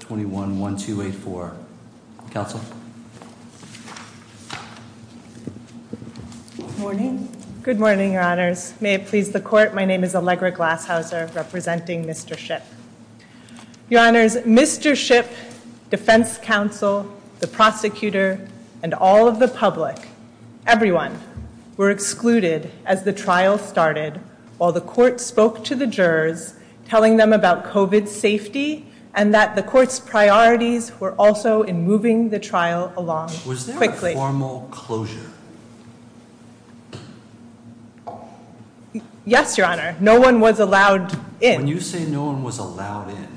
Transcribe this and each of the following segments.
21-1284. Counsel? Good morning. Good morning, your honors. May it please the court, my name is Allegra Glashauser representing Mr. Shipp. Your honors, Mr. Shipp, defense counsel, the prosecutor, and all of the public, everyone, were excluded as the trial started while the court spoke to jurors telling them about COVID safety and that the court's priorities were also in moving the trial along quickly. Was there a formal closure? Yes, your honor. No one was allowed in. When you say no one was allowed in,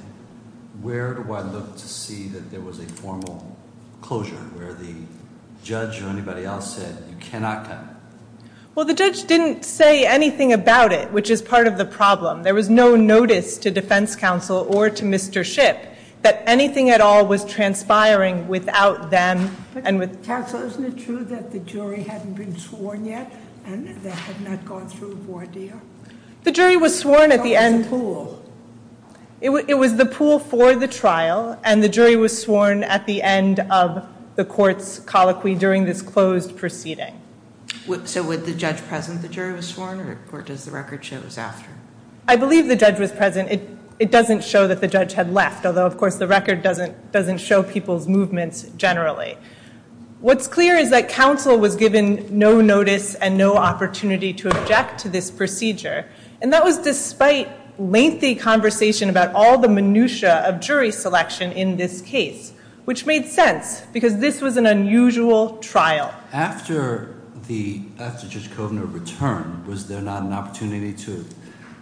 where do I look to see that there was a formal closure where the judge or anybody else said you cannot come? Well, the judge didn't say anything about it, which is part of the problem. There was no notice to defense counsel or to Mr. Shipp that anything at all was transpiring without them. Counsel, isn't it true that the jury hadn't been sworn yet and they had not gone through a board deal? The jury was sworn at the end. It was the pool for the trial and the jury was sworn at the end of the court's colloquy during this closed proceeding. So would the judge present the jury was sworn or does the record show it was after? I believe the judge was present. It doesn't show that the judge had left, although of course the record doesn't doesn't show people's movements generally. What's clear is that counsel was given no notice and no opportunity to object to this procedure and that was despite lengthy conversation about all the minutiae of jury selection in this case, which made sense because this was an unusual trial. After the after Judge Kovner returned, was there not an opportunity to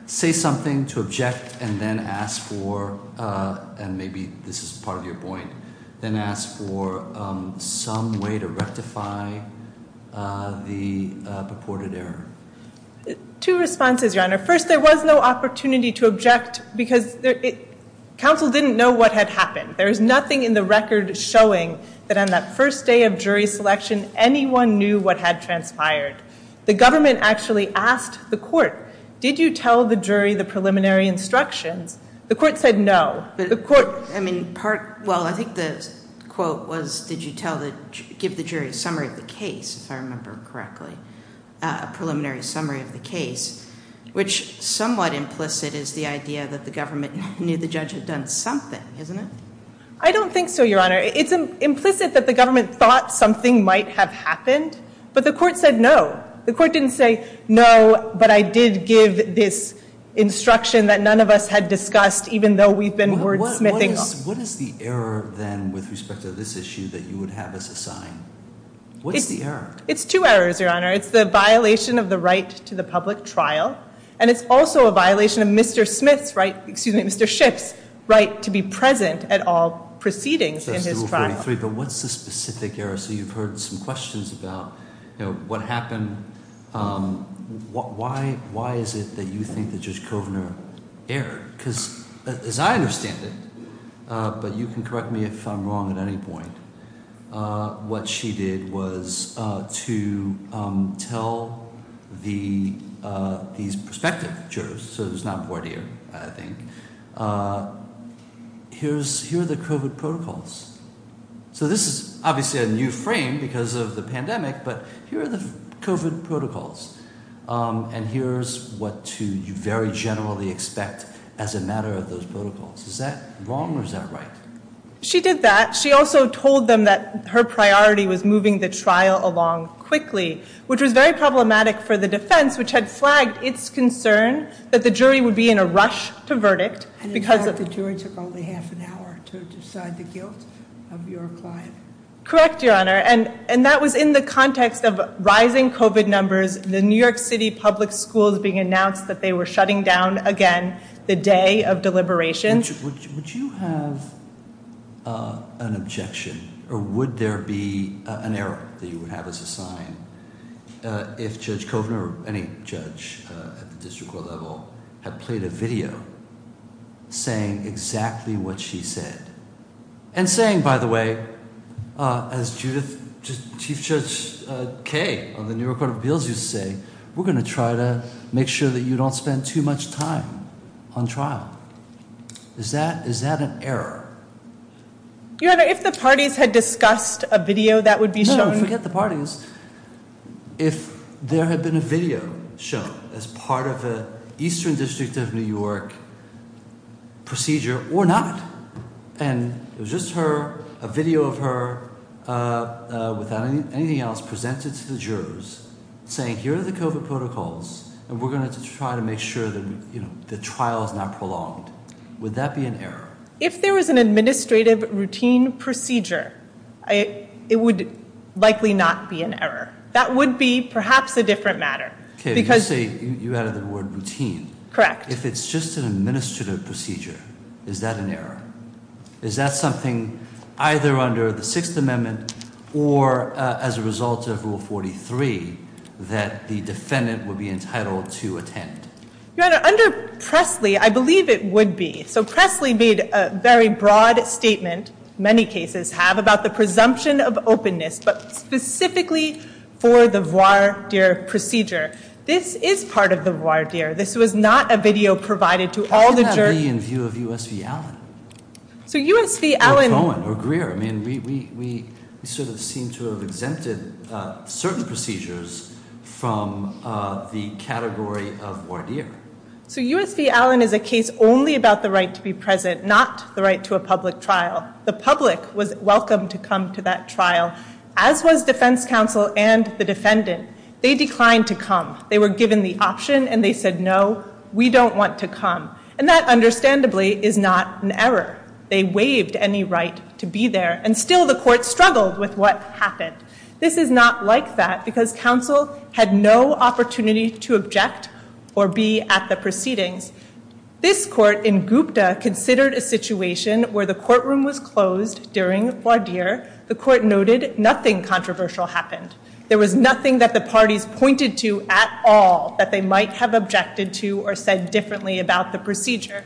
say something, to object, and then ask for, and maybe this is part of your point, then ask for some way to rectify the purported error? Two responses, your honor. First, there was no opportunity to object because counsel didn't know what had happened. There is nothing in the record showing that on that first day of jury selection anyone knew what had transpired. The government actually asked the court, did you tell the jury the preliminary instructions? The court said no. But the court, I mean part, well I think the quote was did you tell the, give the jury a summary of the case, if I remember correctly, a preliminary summary of the case, which somewhat implicit is the idea that the government knew the judge had done something, isn't it? I don't think so, your honor. It's implicit that the government thought something might have happened, but the court said no. The court didn't say no, but I did give this instruction that none of us had discussed, even though we've been wordsmithing. What is the error then with respect to this issue that you would have us assign? What's the error? It's two errors, your honor. It's the violation of the right to the public trial, and it's also a violation of Mr. Smith's right, excuse me, Mr. Schiff's right to be present at all proceedings in his trial. But what's the specific error? So you've heard some questions about, you know, what happened, why is it that you think that Judge Kovner erred? Because as I understand it, but you can correct me if I'm wrong at any point, what she did was to tell these prospective jurors, so it's not voir dire, I think, here are the COVID protocols. So this is obviously a new frame because of the pandemic, but here are the COVID protocols, and here's what to very generally expect as a matter of those protocols. Is that wrong or is that right? She did that. She also told them that her priority was moving the trial along quickly, which was very problematic for the defense, which had flagged its concern that the jury would be in a rush to verdict because the jury took only half an hour to decide the guilt of your client. Correct, your honor, and that was in the context of rising COVID numbers, the New York City public schools being announced that they were shutting down again the day of deliberations. Would you have an objection or would there be an error that you would have as a sign if Judge Kovner or any judge at the district court level had played a video saying exactly what she said and saying, by the way, as Chief Judge Kaye of the New York Court of Appeals used to say, we're going to try to make sure that you don't spend too much time on trial. Is that an error? Your honor, if the parties had discussed a video that would be shown... No, forget the parties. If there had been a video shown as part of the Eastern District of New York procedure or not, and it was just her, a video of her without anything else presented to the jurors saying, here are the COVID protocols and we're going to try to make sure that the trial is not prolonged, would that be an error? If there was an administrative routine procedure, it would likely not be an error. That would be perhaps a different matter. Kaye, you added the word routine. Correct. If it's just an administrative procedure, is that an error? Is that something either under the Sixth Amendment or as a result of Rule 43 that the defendant would be entitled to attend? Your honor, under Pressley, I believe it would be. So Pressley made a very broad statement, many cases have, about the presumption of openness, but specifically for the voir dire procedure. This is part of the voir dire. This was not a USV Allen or Cohen or Greer. We seem to have exempted certain procedures from the category of voir dire. So USV Allen is a case only about the right to be present, not the right to a public trial. The public was welcome to come to that trial, as was defense counsel and the defendant. They declined to come. They were given the option and they said, no, we don't want to come. And that is not an error. They waived any right to be there. And still the court struggled with what happened. This is not like that because counsel had no opportunity to object or be at the proceedings. This court in Gupta considered a situation where the courtroom was closed during voir dire. The court noted nothing controversial happened. There was nothing that the parties pointed to at all that they might have objected to or said differently about the procedure.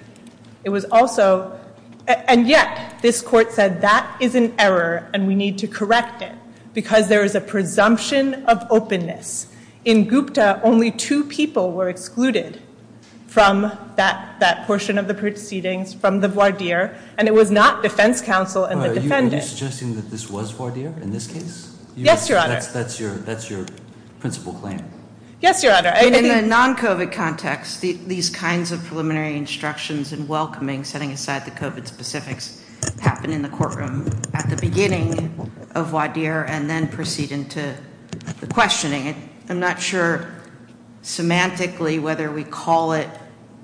It was also, and yet this court said that is an error and we need to correct it because there is a presumption of openness. In Gupta, only two people were excluded from that portion of the proceedings from the voir dire and it was not defense counsel and the defendant. Are you suggesting that this was voir dire in this case? Yes, your honor. That's your principle claim? Yes, your honor. In the non-COVID context, these kinds of preliminary instructions and welcoming setting aside the COVID specifics happen in the courtroom at the beginning of voir dire and then proceed into the questioning. I'm not sure semantically whether we call it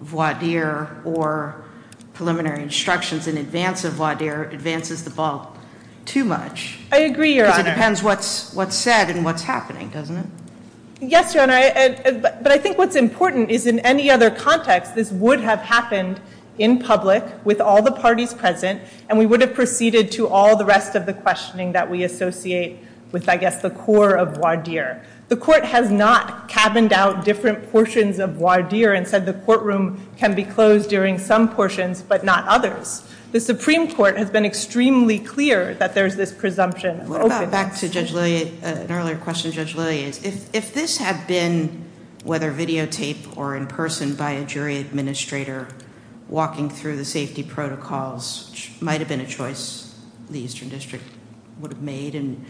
voir dire or preliminary instructions in advance of voir dire advances the ball too much. I agree, it depends what's said and what's happening, doesn't it? Yes, your honor, but I think what's important is in any other context, this would have happened in public with all the parties present and we would have proceeded to all the rest of the questioning that we associate with, I guess, the core of voir dire. The court has not cabined out different portions of voir dire and said the courtroom can be closed during some portions but not others. The Supreme Court has been extremely clear that there's this presumption. What about back to Judge Lilliat, an earlier question, Judge Lilliat, if this had been whether videotaped or in person by a jury administrator walking through the safety protocols, which might have been a choice the Eastern District would have made and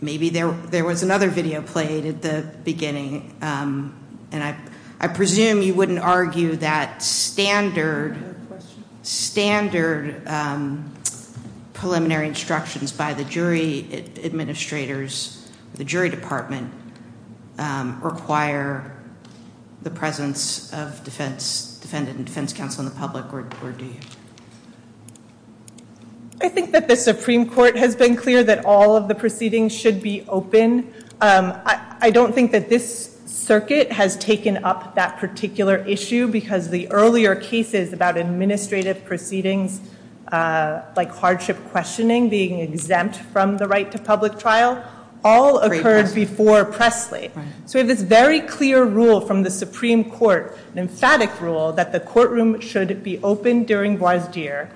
maybe there was another video played at the beginning and I presume you wouldn't argue that standard preliminary instructions by the jury administrators, the jury department require the presence of defendant and defense counsel in the public or do you? I think that the Supreme Court has been clear that all of the proceedings should be open. I don't think that this circuit has taken up that particular issue because the earlier cases about administrative proceedings like hardship questioning being exempt from the right to public trial all occurred before Presley. So we have this very clear rule from the Supreme Court, an emphatic rule, that the courtroom should be open during voir dire.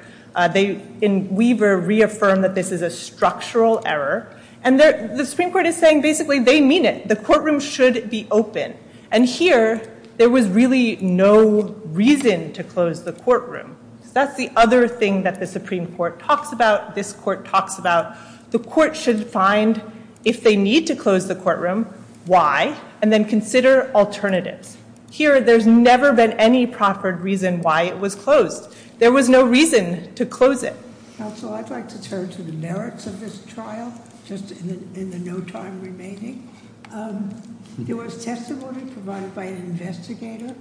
They in Weaver reaffirmed that this is a structural error and the Supreme Court is saying basically they mean it. The courtroom should be open and here there was really no reason to close the courtroom. That's the other thing that the Supreme Court talks about, this court talks about. The court should find if they need to close the courtroom why and then consider alternatives. Here there's never been any proper reason why it was closed. There was no reason to close it. Counsel, I'd like to turn to the merits of this trial just in the no time remaining. There was testimony provided by an investigator.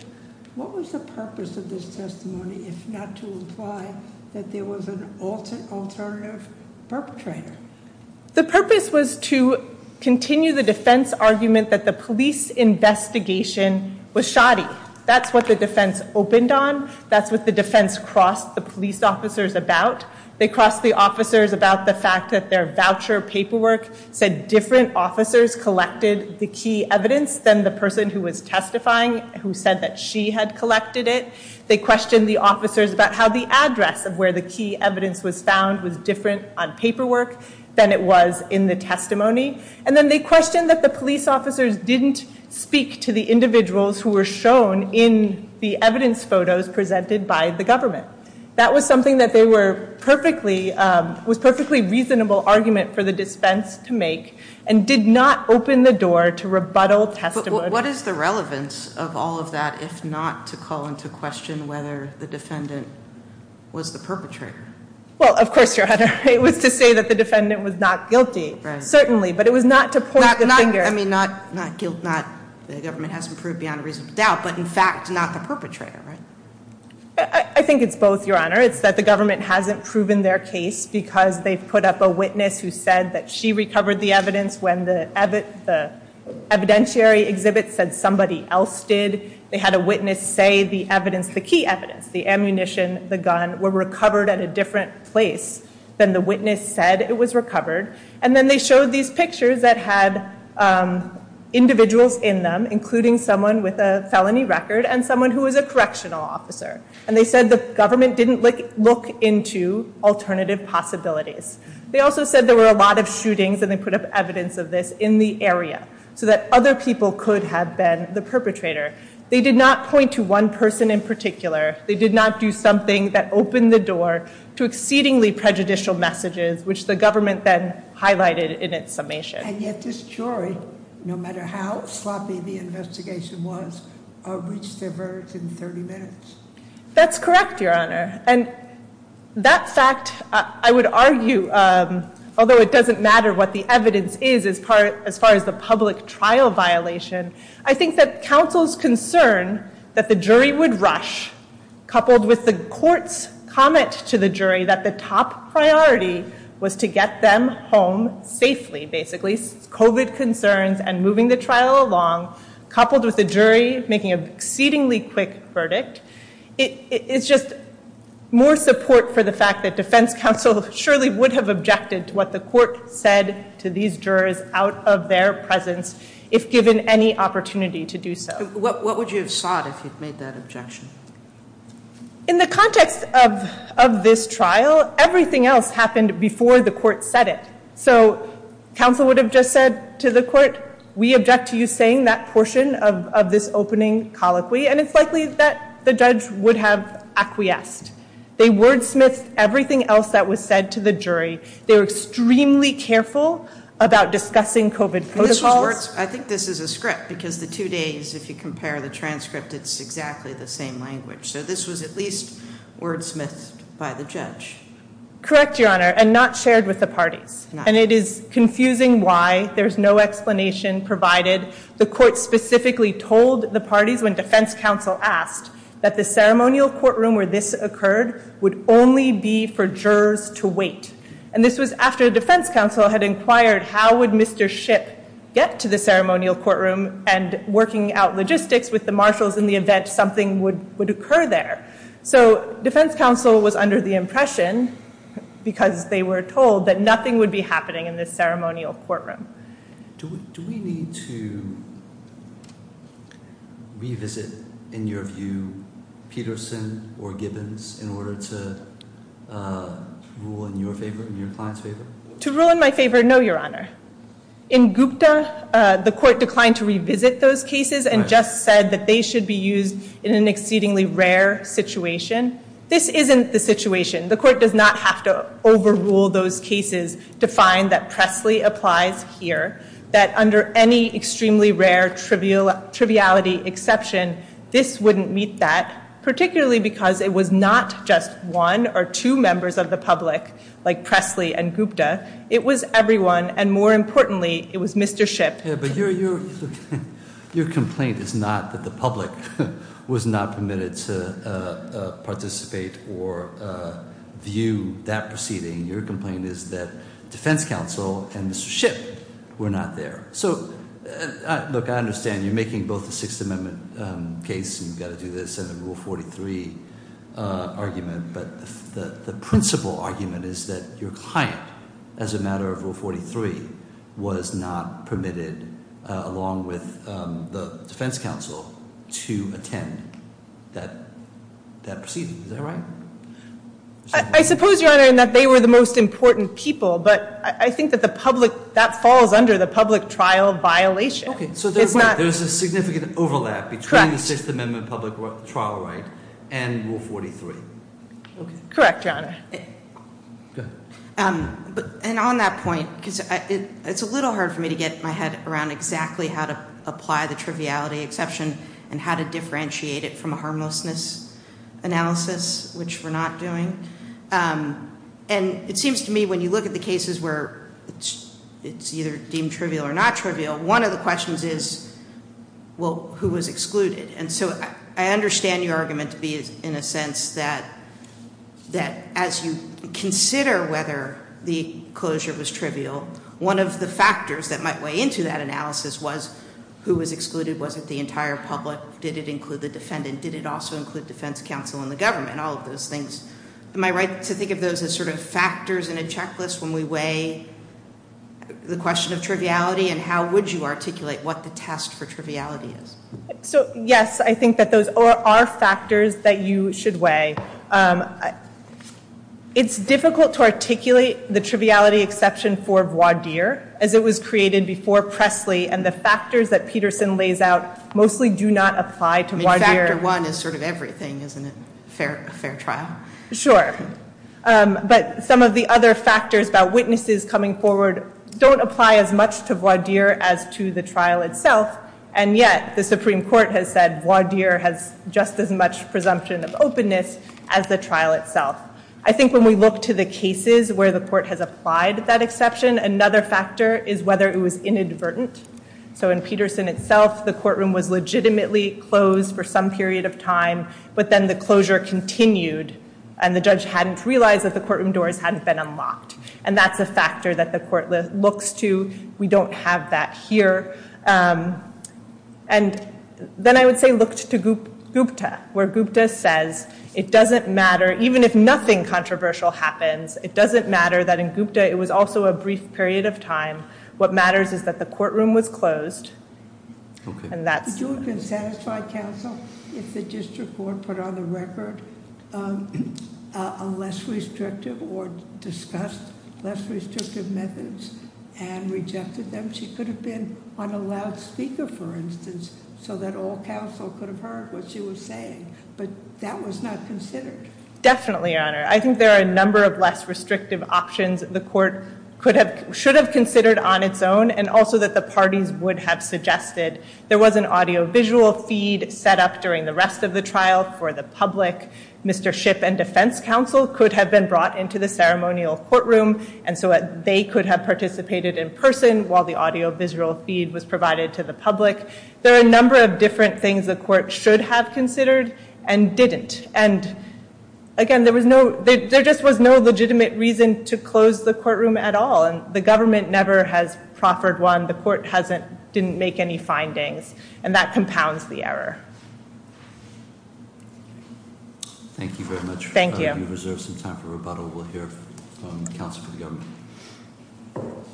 What was the purpose of this testimony if not to imply that there was an alternative perpetrator? The purpose was to continue the defense argument that the police investigation was shoddy. That's the defense opened on. That's what the defense crossed the police officers about. They crossed the officers about the fact that their voucher paperwork said different officers collected the key evidence than the person who was testifying who said that she had collected it. They questioned the officers about how the address of where the key evidence was found was different on paperwork than it was in the testimony. And then they questioned that the police officers didn't speak to the individuals who were shown in the evidence photos presented by the government. That was something that they were perfectly, was perfectly reasonable argument for the dispense to make and did not open the door to rebuttal testimony. What is the relevance of all of that if not to call into question whether the defendant was the perpetrator? Well of course your honor, it was to say that the defendant was not guilty, certainly, but it was not to point the finger. I mean, not guilt, not the government hasn't proved beyond a reasonable doubt, but in fact not the perpetrator, right? I think it's both, your honor. It's that the government hasn't proven their case because they've put up a witness who said that she recovered the evidence when the evidentiary exhibit said somebody else did. They had a witness say the evidence, the key evidence, the ammunition, the gun, were recovered at a different place than the witness said it was individuals in them, including someone with a felony record and someone who was a correctional officer. And they said the government didn't look into alternative possibilities. They also said there were a lot of shootings and they put up evidence of this in the area so that other people could have been the perpetrator. They did not point to one person in particular. They did not do something that opened the door to exceedingly prejudicial messages, which the government then no matter how sloppy the investigation was, reached their verdict in 30 minutes. That's correct, your honor. And that fact, I would argue, although it doesn't matter what the evidence is as far as the public trial violation, I think that counsel's concern that the jury would rush coupled with the court's comment to the jury that the top priority was to along, coupled with the jury making an exceedingly quick verdict, it's just more support for the fact that defense counsel surely would have objected to what the court said to these jurors out of their presence if given any opportunity to do so. What would you have sought if you'd made that objection? In the context of this trial, everything else happened before the court said it. So counsel would have just said to the court, we object to you saying that portion of this opening colloquy, and it's likely that the judge would have acquiesced. They wordsmithed everything else that was said to the jury. They were extremely careful about discussing COVID protocols. I think this is a script because the two days, if you compare the transcript, it's exactly the same language. So this was at least wordsmithed by the judge. Correct, Your Honor, and not shared with the parties. And it is confusing why there's no explanation provided. The court specifically told the parties when defense counsel asked that the ceremonial courtroom where this occurred would only be for jurors to wait. And this was after defense counsel had inquired how would Mr. Shipp get to the ceremonial courtroom and working out logistics with the marshals in the event something would occur there. So defense counsel was under the impression because they were told that nothing would be happening in this ceremonial courtroom. Do we need to revisit, in your view, Peterson or Gibbons in order to rule in your favor, in your client's favor? To rule in my favor, no, Your Honor. In Gupta, the court declined to revisit those cases and just said that they should be used in an exceedingly rare situation. This isn't the situation. The court does not have to overrule those cases to find that Presley applies here. That under any extremely rare triviality exception, this wouldn't meet that, particularly because it was not just one or two members of the public like Presley and Gupta. It was everyone, and more importantly, it was Mr. Shipp. Yeah, but your complaint is not that the public was not permitted to participate or view that proceeding. Your complaint is that defense counsel and Mr. Shipp were not there. So look, I understand you're making both the Sixth Amendment case and you've got to do this and the Rule 43 argument, but the principal argument is that your client, as a matter of fact, Rule 43, was not permitted, along with the defense counsel, to attend that proceeding. Is that right? I suppose, Your Honor, in that they were the most important people, but I think that the public, that falls under the public trial violation. Okay, so there's a significant overlap between the Sixth Amendment public trial right and Rule 43. Correct, Your Honor. Go ahead. And on that point, because it's a little hard for me to get my head around exactly how to apply the triviality exception and how to differentiate it from a harmlessness analysis, which we're not doing. And it seems to me when you look at the cases where it's either deemed trivial or not trivial, one of the questions is, well, who was excluded? And so I understand your argument to be, in a sense, that as you consider whether the closure was trivial, one of the factors that might weigh into that analysis was who was excluded, was it the entire public, did it include the defendant, did it also include defense counsel and the government, all of those things. Am I right to think of those as sort of factors in a checklist when we weigh the question of triviality and how would you articulate what the test for triviality is? So yes, I think that those are factors that you should weigh. It's difficult to articulate the triviality exception for voir dire as it was created before Presley and the factors that Peterson lays out mostly do not apply to voir dire. I mean, factor one is sort of everything, isn't it? A fair trial. Sure. But some of the other factors about witnesses coming forward don't apply as much to voir dire as to the trial itself. And yet the Supreme Court has said voir dire has just as much presumption of openness as the trial itself. I think when we look to the cases where the court has applied that exception, another factor is whether it was inadvertent. So in Peterson itself, the courtroom was legitimately closed for some period of time, but then the closure continued and the judge hadn't realized that the courtroom doors hadn't been unlocked. And that's a factor that the court looks to. We don't have that here. And then I would say look to Gupta, where Gupta says it doesn't matter, even if nothing controversial happens, it doesn't matter that in Gupta it was also a brief period of time. What matters is that the courtroom was closed and that's... Would you have been satisfied, counsel, if the district court put on the record a less restrictive or discussed less restrictive methods and rejected them? She could have been on a loudspeaker, for instance, so that all counsel could have heard what she was saying, but that was not considered. Definitely, Your Honor. I think there are a number of less restrictive options the court should have considered on its own and also that the parties would have suggested. There was an audio-visual feed set up during the rest of the trial for the public. Mr. Shipp and defense counsel could have been brought into the ceremonial courtroom, and so they could have participated in person while the audio-visual feed was provided to the public. There are a number of different things the court should have considered and didn't. And again, there just was no legitimate reason to close the courtroom at all. And the government never has proffered one. The court didn't make any findings, and that compounds the error. Thank you very much. Thank you. We reserve some time for rebuttal. We'll hear from counsel for the government.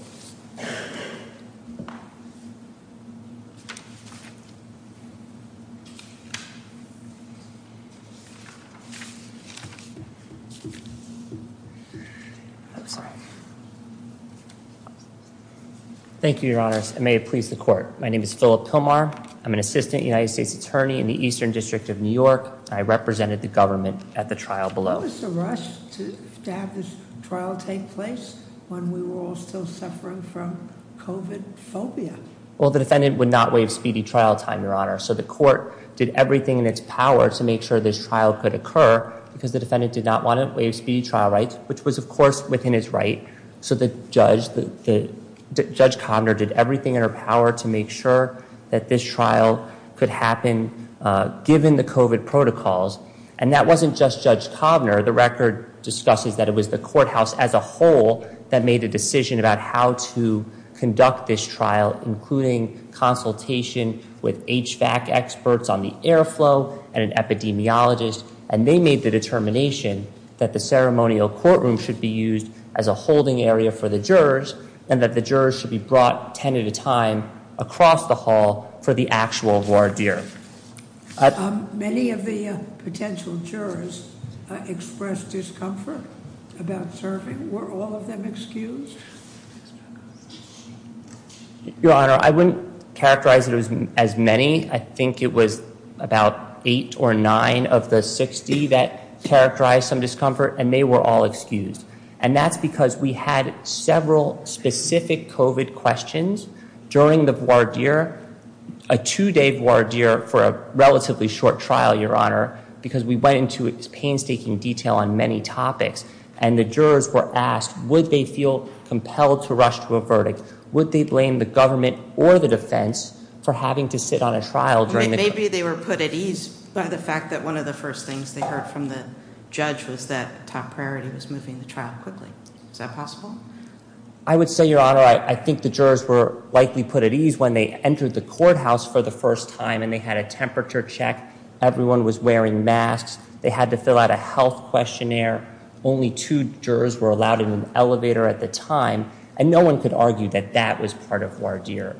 Thank you, Your Honor. May it please the court. My name is Philip Pilmar. I'm an assistant United States attorney in the Eastern District of New York. I represented the government at the trial below. What was the rush to have this trial take place when we were all still suffering from COVID-phobia? Well, the defendant would not waive speedy trial time, Your Honor. So the court did everything in its power to make sure this trial could occur because the defendant did not want to waive speedy trial rights, which was, of course, within his right. So Judge Kovner did everything in her power to make sure that this trial could happen given the COVID protocols. And that wasn't just Judge Kovner. The record discusses that it was the courthouse as a whole that made a decision about how to conduct this trial, including consultation with HVAC experts on the airflow and an interpretation that the ceremonial courtroom should be used as a holding area for the jurors and that the jurors should be brought 10 at a time across the hall for the actual voir dire. Many of the potential jurors expressed discomfort about serving. Were all of them excused? Your Honor, I wouldn't characterize it as many. I think it was about eight or nine of the 60 that characterized some discomfort, and they were all excused. And that's because we had several specific COVID questions during the voir dire, a two-day voir dire for a relatively short trial, Your Honor, because we went into painstaking detail on many topics. And the jurors were asked, would they feel compelled to rush to a verdict? Would they blame the government or the defense for having to sit on a trial during the... Maybe they were put at ease by the fact that one of the things they heard from the judge was that top priority was moving the trial quickly. Is that possible? I would say, Your Honor, I think the jurors were likely put at ease when they entered the courthouse for the first time and they had a temperature check. Everyone was wearing masks. They had to fill out a health questionnaire. Only two jurors were allowed in an elevator at the time. And no one could argue that that was part of voir dire.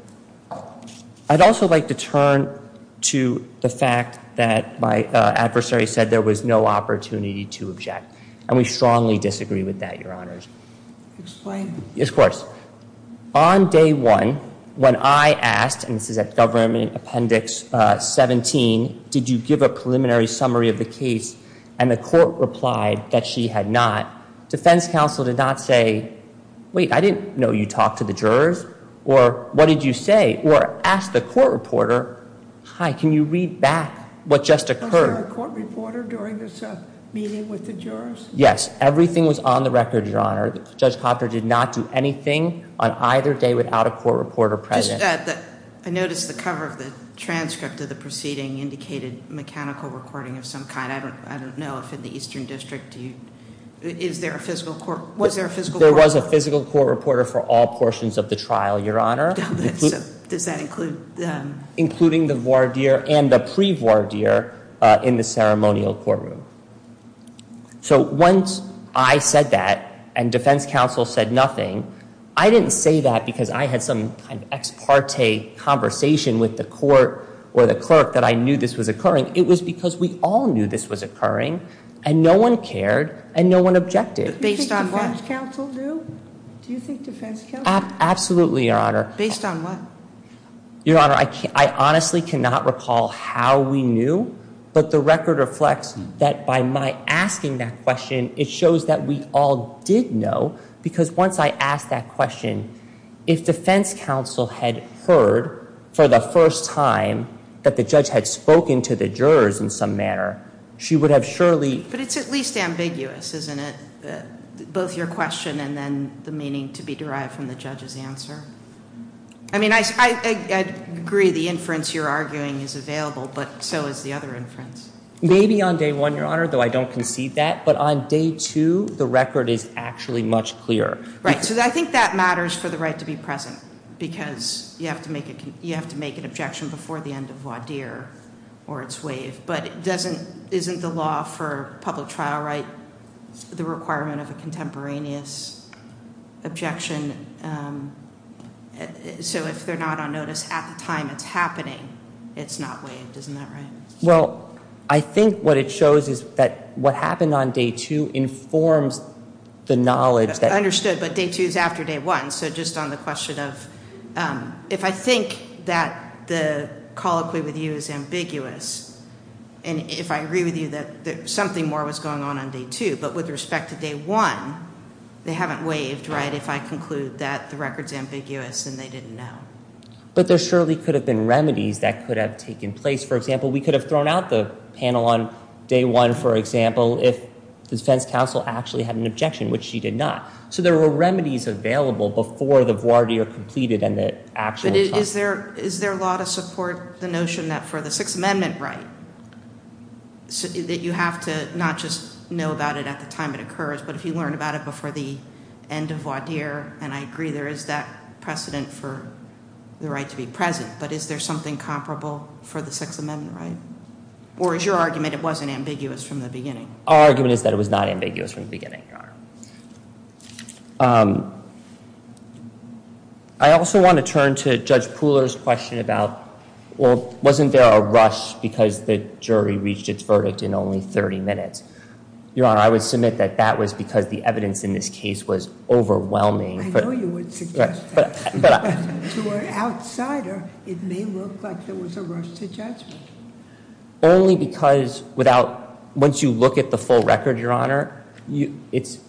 I'd also like to turn to the fact that my adversary said there was no opportunity to object. And we strongly disagree with that, Your Honors. Explain. Yes, of course. On day one, when I asked, and this is at Government Appendix 17, did you give a preliminary summary of the case? And the court replied that she had not. Defense counsel did not say, wait, I didn't know you had a court reporter. Hi, can you read back what just occurred? Was there a court reporter during this meeting with the jurors? Yes, everything was on the record, Your Honor. Judge Copper did not do anything on either day without a court reporter present. I noticed the cover of the transcript of the proceeding indicated mechanical recording of some kind. I don't know if in the Eastern District, is there a physical court? Was there a physical court reporter? There was a physical court reporter for all including the voir dire and the pre-voir dire in the ceremonial courtroom. So once I said that and defense counsel said nothing, I didn't say that because I had some kind of ex parte conversation with the court or the clerk that I knew this was occurring. It was because we all knew this was occurring and no one cared and no one objected. Do you think defense counsel do? Do you think defense counsel do? Based on what? Your Honor, I honestly cannot recall how we knew, but the record reflects that by my asking that question, it shows that we all did know because once I asked that question, if defense counsel had heard for the first time that the judge had spoken to the jurors in some manner, she would have surely... But it's at least ambiguous, isn't it? Both your question and then the meaning to be derived from the judge's answer. I mean, I agree the inference you're arguing is available, but so is the other inference. Maybe on day one, Your Honor, though I don't concede that, but on day two, the record is actually much clearer. Right, so I think that matters for the right to be present because you have to make an objection before the end of voir dire or its waive, but isn't the law for public trial right the requirement of a contemporaneous objection? So if they're not on notice at the time it's happening, it's not waived, isn't that right? Well, I think what it shows is that what happened on day two informs the knowledge that... Understood, but day two is after day one, so just on the question of... If I think that the colloquy with you is ambiguous and if I agree with you that something more was going on on day two, but with respect to day one, they haven't waived, right? If I conclude that the record's ambiguous and they didn't know. But there surely could have been remedies that could have taken place. For example, we could have thrown out the panel on day one, for example, if the defense counsel actually had an objection, which she did not. So there were remedies available before the voir dire completed and the actual... But is there a law to support the notion that for the Sixth Amendment right that you have to not just know about it at the time it occurs, but if you learn about it before the end of voir dire, and I agree there is that precedent for the right to be present, but is there something comparable for the Sixth Amendment right? Or is your argument it wasn't ambiguous from the beginning? Our argument is that it was not ambiguous from the beginning, Your Honor. I also want to turn to Judge Pooler's question about, well, wasn't there a rush because the jury reached its verdict in only 30 minutes? Your Honor, I would submit that that was because the evidence in this case was overwhelming. I know you would suggest that, but to an outsider, it may look like there was a rush to judgment. Only because without... Once you look at the full record, Your Honor, it's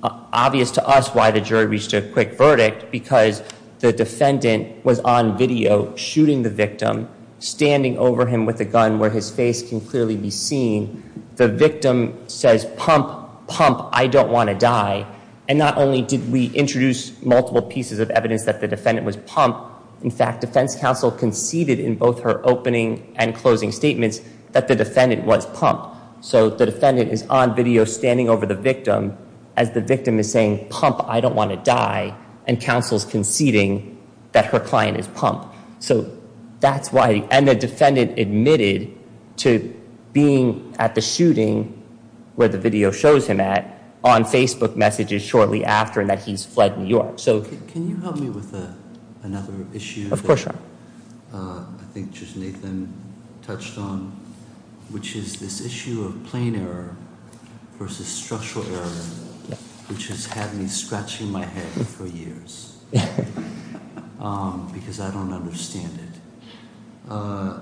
obvious to us why the jury reached a quick verdict because the defendant was on video shooting the victim, standing over him with a gun where his face can clearly be seen. The victim says, pump, pump, I don't want to die. And not only did we introduce multiple pieces of evidence that the defendant was pumped, in fact, defense counsel conceded in both her opening and closing statements that the defendant was pumped. So the defendant is on video standing over the victim as the victim is saying, pump, I don't want to die, and counsel's conceding that her client is pumped. So that's why... And the defendant admitted to being at the shooting where the video shows him at on Facebook messages shortly after and that he's fled New York. So can you help me with another issue? Of course, Your Honor. I think Judge Nathan touched on, which is this issue of plain error versus structural error, which has had me scratching my head for years because I don't understand it.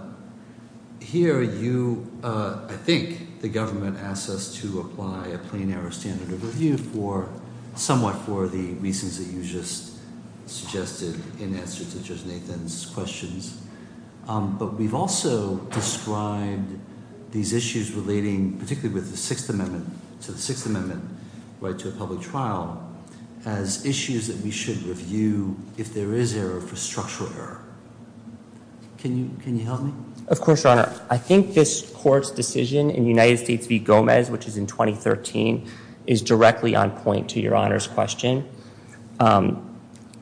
Here you, I think the government asks us to apply a plain error standard of review for somewhat for the reasons that you just suggested in answer to Nathan's questions. But we've also described these issues relating particularly with the Sixth Amendment to the Sixth Amendment right to a public trial as issues that we should review if there is error for structural error. Can you help me? Of course, Your Honor. I think this court's decision in United States v. Gomez, which is in 2013, is directly on point to Your Honor's question.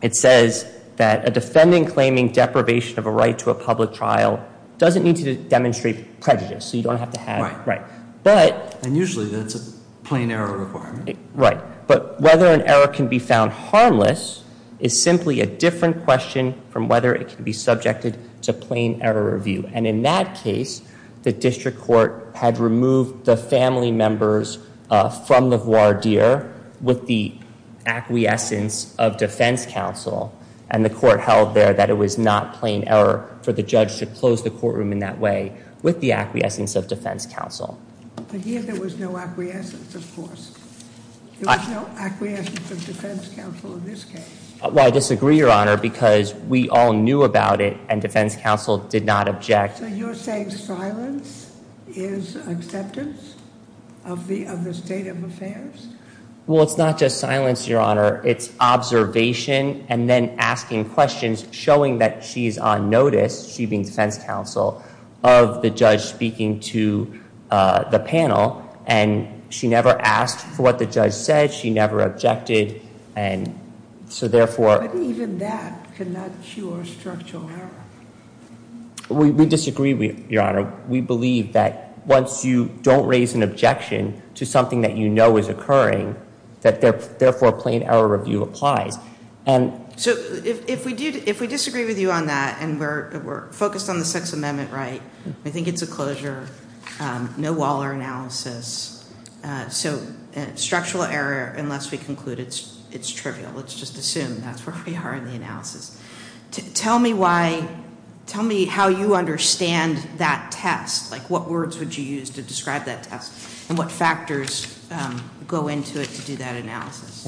It says that a defendant claiming deprivation of a right to a public trial doesn't need to demonstrate prejudice. So you don't have to have... And usually that's a plain error requirement. Right. But whether an error can be found harmless is simply a different question from whether it can be subjected to plain error review. And in that case, the district court had removed the family members from the voir dire with the acquiescence of defense counsel, and the court held there that it was not plain error for the judge to close the courtroom in that way with the acquiescence of defense counsel. But here there was no acquiescence, of course. There was no acquiescence of defense counsel in this case. Well, I disagree, Your Honor, because we all knew about it, and defense counsel did not object. So you're saying silence is acceptance of the state of affairs? Well, it's not just silence, Your Honor. It's observation and then asking questions, showing that she's on notice, she being defense counsel, of the judge speaking to the panel. And she never asked for what the judge said. She never objected. So therefore... But even that cannot cure structural error. We disagree, Your Honor. We believe that once you don't raise an objection to something that you know is occurring, that therefore plain error review applies. So if we disagree with you on that and we're focused on the Sixth Amendment right, we think it's a closure, no Waller analysis. So structural error, unless we conclude it's trivial, let's just assume that's where we are in the analysis. Tell me why, tell me how you understand that test. Like what words would you use to describe that test and what factors go into it to do that analysis?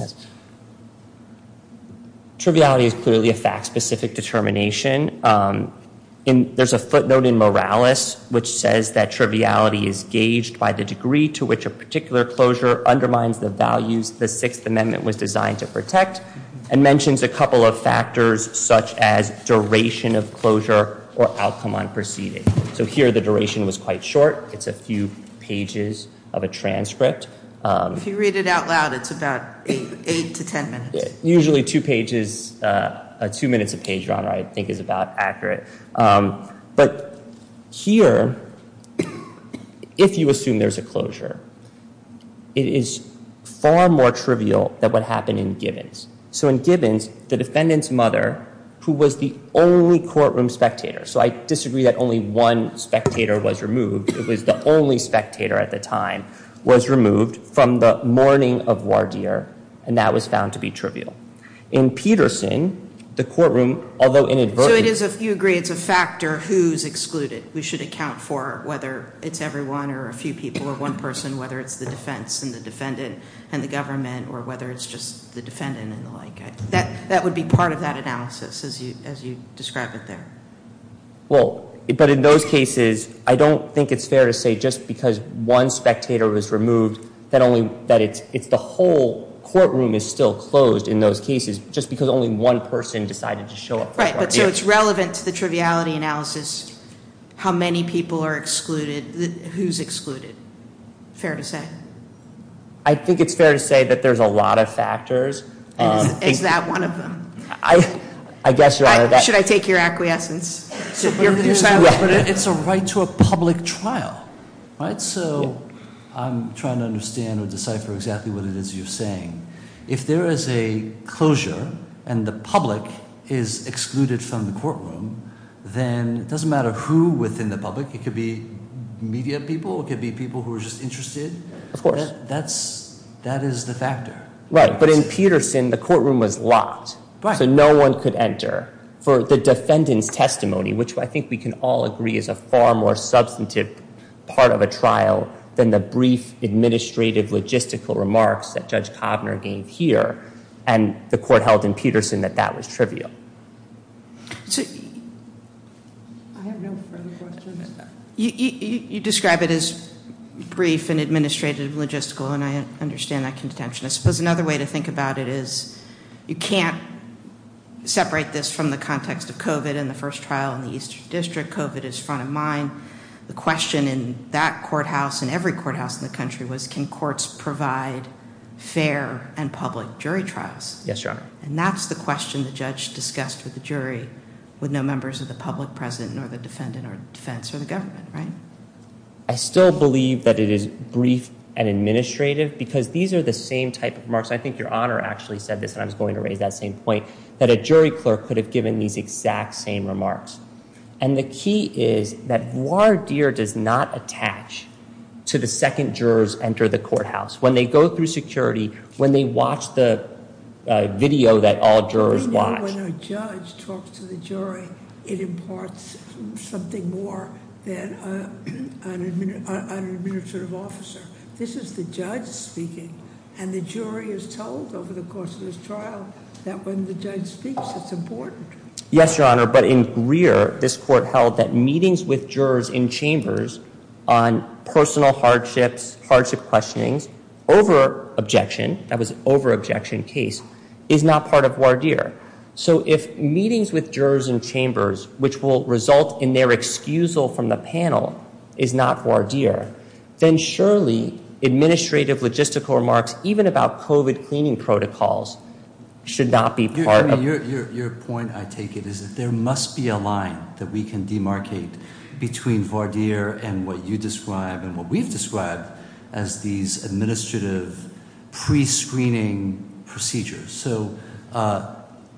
Triviality is clearly a fact-specific determination. There's a footnote in Morales which says that triviality is gauged by the degree to which a particular closure undermines the values the Sixth Amendment was designed to protect and mentions a couple of factors such as duration of closure or outcome on proceeding. So here the duration was quite short. It's a few pages of a transcript. If you read it out loud, it's about eight to ten minutes. Usually two pages, two minutes a page, I think is about accurate. But here, if you assume there's a closure, it is far more trivial than what happened in Gibbons. So in Gibbons, the defendant's mother, who was the only courtroom spectator, so I disagree that only one spectator was removed, it was the only spectator at the time, was removed from the mourning of Wardeer and that was found to be trivial. In Peterson, the courtroom, although inadvertently... So you agree it's a factor who's excluded. We should account for whether it's everyone or a few people or one person, whether it's the defense and the defendant and the government or whether it's just the defendant and the like. That would be part of that analysis as you describe it there. Well, but in those cases, I don't think it's fair to say just because one spectator was removed that only that it's the whole courtroom is still closed in those cases, just because only one person decided to show up. Right, but so it's relevant to the triviality analysis how many people are excluded, who's excluded. Fair to say. I think it's fair to say that there's a lot of factors. Is that one of them? I guess... Should I take your acquiescence? It's a right to a public trial, right? So I'm trying to understand or decipher exactly what it is you're saying. If there is a closure and the public is excluded from the courtroom, then it doesn't matter who within the public, it could be media people, it could be people who are just interested. Of course. That is the factor. Right, but in Peterson, the courtroom was locked, so no one could enter. For the defendant's testimony, which I think we can all agree is a far more substantive part of a trial than the brief administrative logistical remarks that Judge Kovner gave here and the court held in Peterson that that was trivial. You describe it as brief and administrative logistical and I understand that contention. I suppose another way to think about it is you can't separate this from the context of COVID and the first trial in the Eastern District. COVID is front of mind. The question in that courthouse and every courthouse in the country was can courts provide fair and public jury trials? Yes, Your Honor. And that's the question the judge discussed with the jury with no members of the public present, nor the defendant or defense or the government, right? I still believe that it is brief and administrative because these are the same type of remarks. I think Your Honor actually said this and I was going to raise that same point, that a jury clerk could give these exact same remarks. And the key is that voir dire does not attach to the second jurors enter the courthouse. When they go through security, when they watch the video that all jurors watch. When a judge talks to the jury, it imparts something more than an administrative officer. This is the judge speaking and the jury is told over the course of this trial that when the judge speaks, it's important. Yes, Your Honor. But in Greer, this court held that meetings with jurors in chambers on personal hardships, hardship questionings, over-objection, that was over-objection case, is not part of voir dire. So if meetings with jurors in chambers, which will result in their excusal from the panel, is not voir dire, then surely administrative logistical remarks, even about COVID cleaning protocols, should not be part of it. Your point, I take it, is that there must be a line that we can demarcate between voir dire and what you describe and what we've described as these administrative pre-screening procedures. So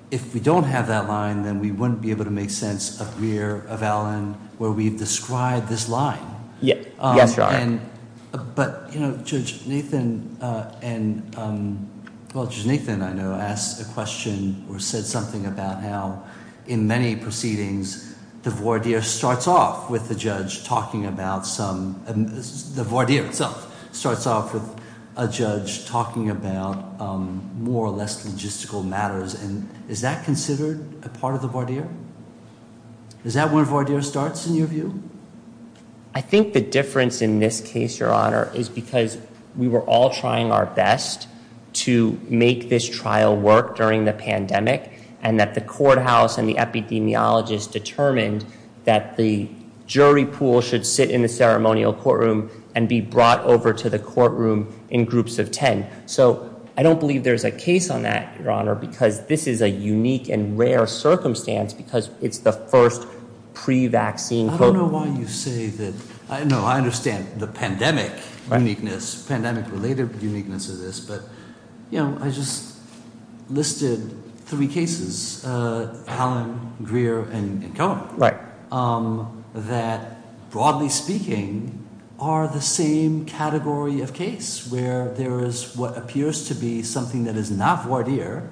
if we don't have that line, then we wouldn't be able to make sense of Greer, of Allen, where we've described this line. Yes, Your Honor. But Judge Nathan, I know, asked a question or said something about how in many proceedings, the voir dire starts off with a judge talking about more or less logistical matters. Is that considered a part of the voir dire? Is that where voir dire starts in your view? I think the difference in this case, Your Honor, is because we were all trying our best to make this trial work during the pandemic, and that the courthouse and the epidemiologist determined that the jury pool should sit in the ceremonial courtroom and be brought over to the courtroom in groups of 10. So I don't believe there's a case on that, Your Honor, because this is a unique and rare circumstance because it's the first pre-vaccine... I don't know why you say that. No, I understand the pandemic uniqueness, pandemic related uniqueness of this, but I just listed three cases, Allen, Greer, and Cohen, that broadly speaking are the same category of case where there is what appears to be something that is not voir dire,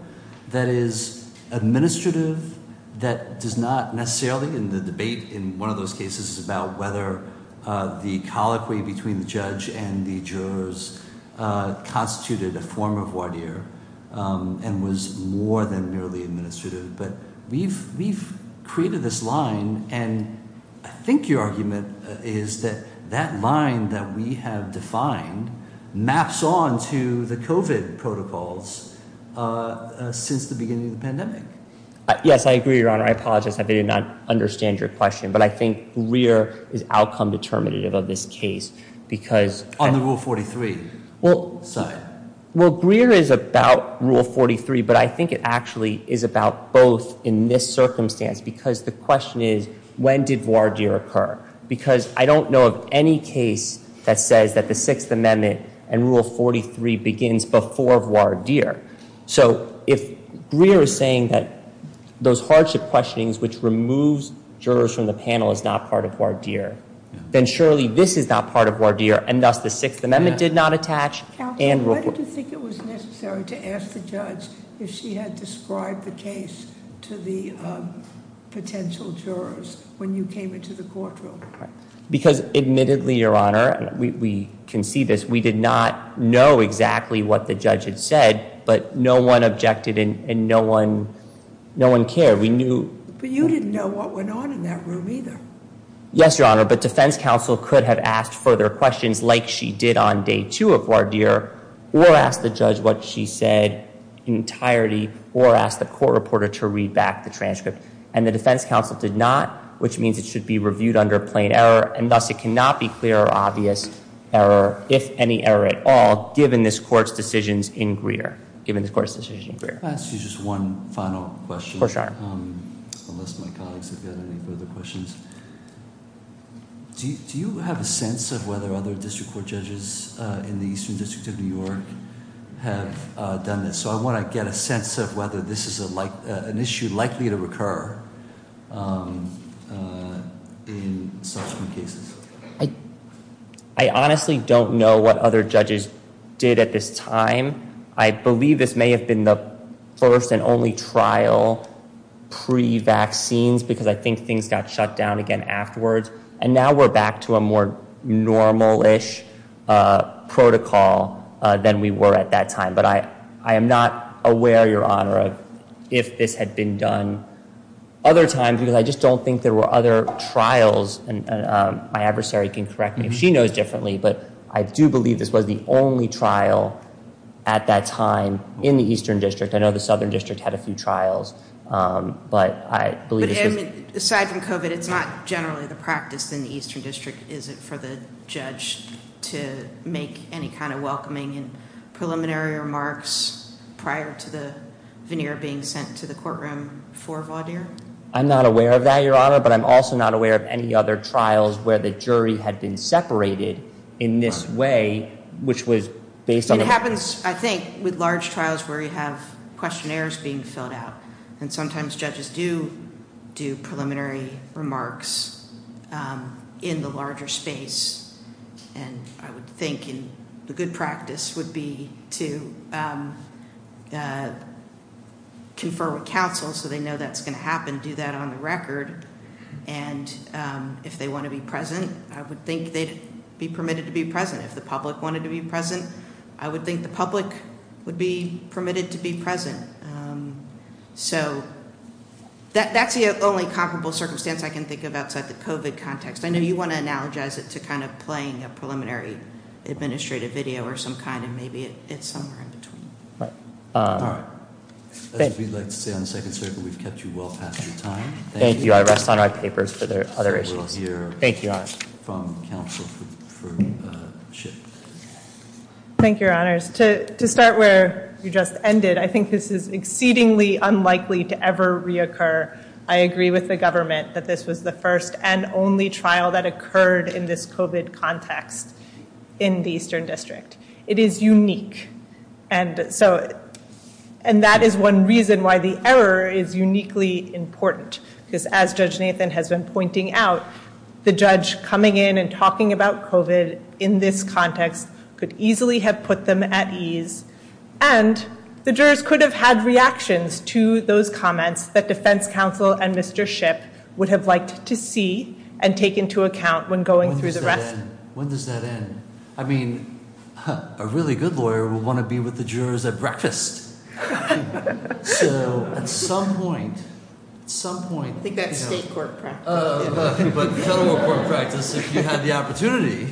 that is administrative, that does not necessarily in the debate in one of those cases is about whether the colloquy between the judge and the jurors constituted a form of voir dire and was more than merely administrative. But we've created this line, and I think your argument is that that line that we have defined maps on to the COVID protocols since the beginning of the pandemic. Yes, I agree, Your Honor. I apologize if I did not understand your question, but I think Greer is outcome determinative of this case because... On the Rule 43 side. Well, Greer is about Rule 43, but I think it actually is about both in this circumstance because the question is, when did voir dire occur? Because I don't know of any case that says that the Sixth Amendment and Rule 43 begins before voir dire. So if Greer is saying that those hardship questionings which removes jurors from the panel is not part of voir dire, then surely this is not part of voir dire, and thus the Sixth Amendment did not attach. Counsel, why did you think it was necessary to ask the judge if she had described the case to the potential jurors when you came into the courtroom? Because admittedly, Your Honor, we can see this, we did not know exactly what the judge had said, but no one objected and no one cared. But you didn't know what went on in that room either. Yes, Your Honor, but defense counsel could have asked further questions like she did on day two of voir dire, or asked the judge what she said in entirety, or asked the court reporter to read back the transcript. And the defense counsel did not, which means it should be reviewed under plain error, and thus it cannot be clear or obvious error, if any error at all, given this court's decision in Greer. I'll ask you just one final question. For sure. Unless my colleagues have got any further questions. Do you have a sense of whether other district court judges in the Eastern District of New York have done this? So I want to get a sense of whether this is an issue likely to recur in subsequent cases. I honestly don't know what other judges did at this time. I believe this may have been the first and only trial pre-vaccines, because I think things got shut down again afterwards. And now we're back to a more normal-ish protocol than we were at that time. But I am not aware, Your Honor, of if this had been done other times, because I just don't think there were other She knows differently, but I do believe this was the only trial at that time in the Eastern District. I know the Southern District had a few trials, but I believe aside from COVID, it's not generally the practice in the Eastern District, is it, for the judge to make any kind of welcoming and preliminary remarks prior to the veneer being sent to the courtroom for Vaudeer? I'm not aware of that, Your Honor, but I'm also not aware of any other trials where the jury had been separated in this way, which was based on- It happens, I think, with large trials where you have questionnaires being filled out, and sometimes judges do do preliminary remarks in the larger space. And I would think the good practice would be to confer with counsel so they know that's going to happen, do that on the record, and if they want to be present, I would think they'd be permitted to be present. If the public wanted to be present, I would think the public would be permitted to be present. So that's the only comparable circumstance I can think of outside the COVID context. I know you want to analogize it to kind of playing a preliminary administrative video or some kind, and maybe it's somewhere in between. All right. That's what we'd like to say on the second circle. We've kept you well past your time. Thank you. I rest on our papers for other issues. Thank you, Your Honor. From counsel for Ship. Thank you, Your Honors. To start where you just ended, I think this is exceedingly unlikely to ever reoccur. I agree with the government that this was the first and only trial that occurred in this COVID context in the Eastern District. It is unique, and that is one reason why the error is uniquely important, because as Judge Nathan has been pointing out, the judge coming in and talking about COVID in this context could easily have put them at ease, and the jurors could have had reactions to those comments that defense counsel and Mr. Ship would have liked to see and take into account when going through the rest. When does that end? I mean, a really good lawyer will want to be with the jurors at breakfast. I think that's state court practice. But federal court practice, if you had the opportunity.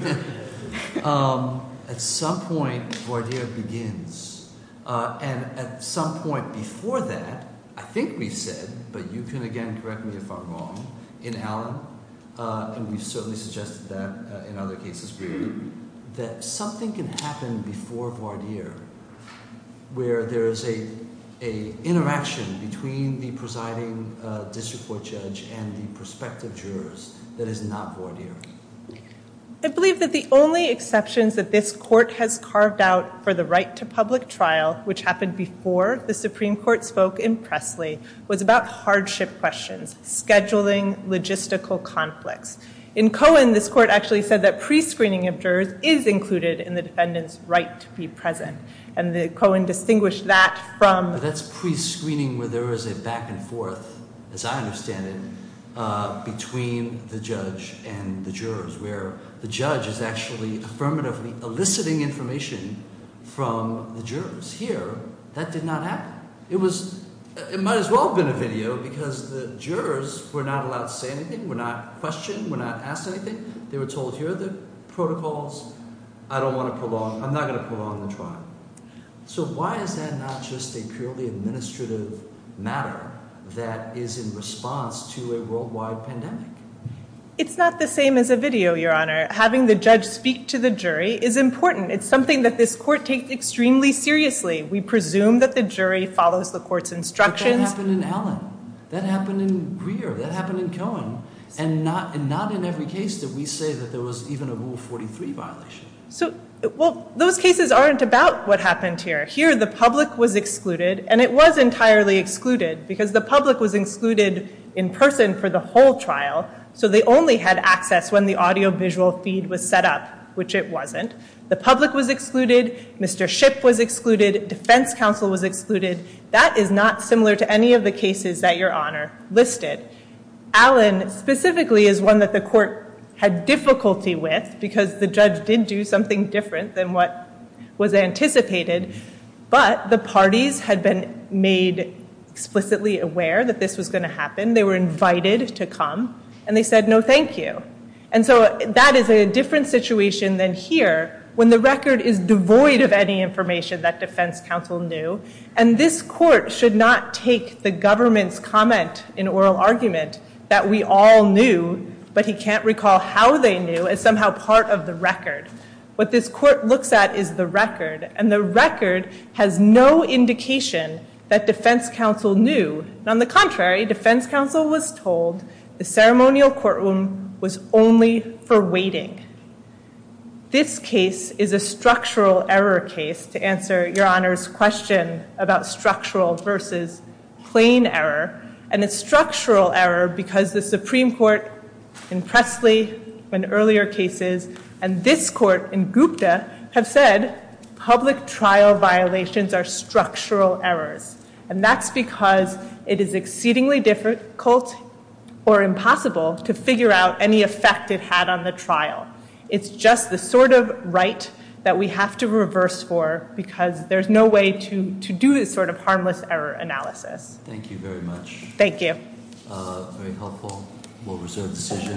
At some point, voir dire begins, and at some point before that, I think we said, but you can again correct me if I'm wrong, in Allen, and we've certainly suggested that in other cases, that something can happen before voir dire, where there is a interaction between the presiding district court judge and the prospective jurors that is not voir dire. I believe that the only exceptions that this court has carved out for the right to public trial, which happened before the Supreme Court spoke in Presley, was about hardship questions, scheduling logistical conflicts. In Cohen, this court actually said that prescreening of jurors is included in the defendant's right to be present, and Cohen distinguished that from... That's prescreening where there is a back and forth, as I understand it, between the judge and the jurors, where the judge is actually affirmatively eliciting information from the jurors. Here, that did not happen. It might as well have been a video because the jurors were not allowed to say anything, were not questioned, were not asked anything. They were told, here are the protocols. I don't want to prolong... I'm not going to prolong the trial. So why is that not just a purely administrative matter that is in response to a worldwide pandemic? It's not the same as a video, Your Honor. Having the judge speak to the jury is important. It's something that this court takes extremely seriously. We presume that the jury follows the court's instructions. But that happened in Allen. That happened in Greer. That happened in Cohen. And not in every case did we say that there was even a Rule 43 violation. So, well, those cases aren't about what happened here. Here, the public was excluded, and it was entirely excluded because the public was excluded in person for the whole trial, so they only had access when the audio-visual feed was set up, which it wasn't. The public was excluded. Mr. Ship was excluded. Defense counsel was excluded. That is not similar to any of the cases that Your Honor listed. Allen specifically is one that the court had difficulty with because the judge did do something different than what was anticipated. But the parties had been made explicitly aware that this was going to happen. They were invited to come, and they said, no, thank you. And so that is a different situation than here, when the record is devoid of any information that defense counsel knew. And this court should not take the government's comment in oral argument that we all knew, but he can't recall how they knew, as somehow part of the record. What this court looks at is the record, and the record has no indication that defense counsel knew. On the contrary, defense counsel was told the ceremonial courtroom was only for waiting. This case is a structural error case, to answer Your Honor's question about structural versus plain error. And it's structural error because the Supreme Court in Presley and earlier cases, and this court in Gupta, have said public trial violations are structural errors. And that's because it is exceedingly difficult or impossible to figure out any effect it had on the trial. It's just the sort of right that we have to reverse for because there's no way to do this sort of harmless error analysis. Thank you very much. Thank you. Very helpful. We'll reserve decision.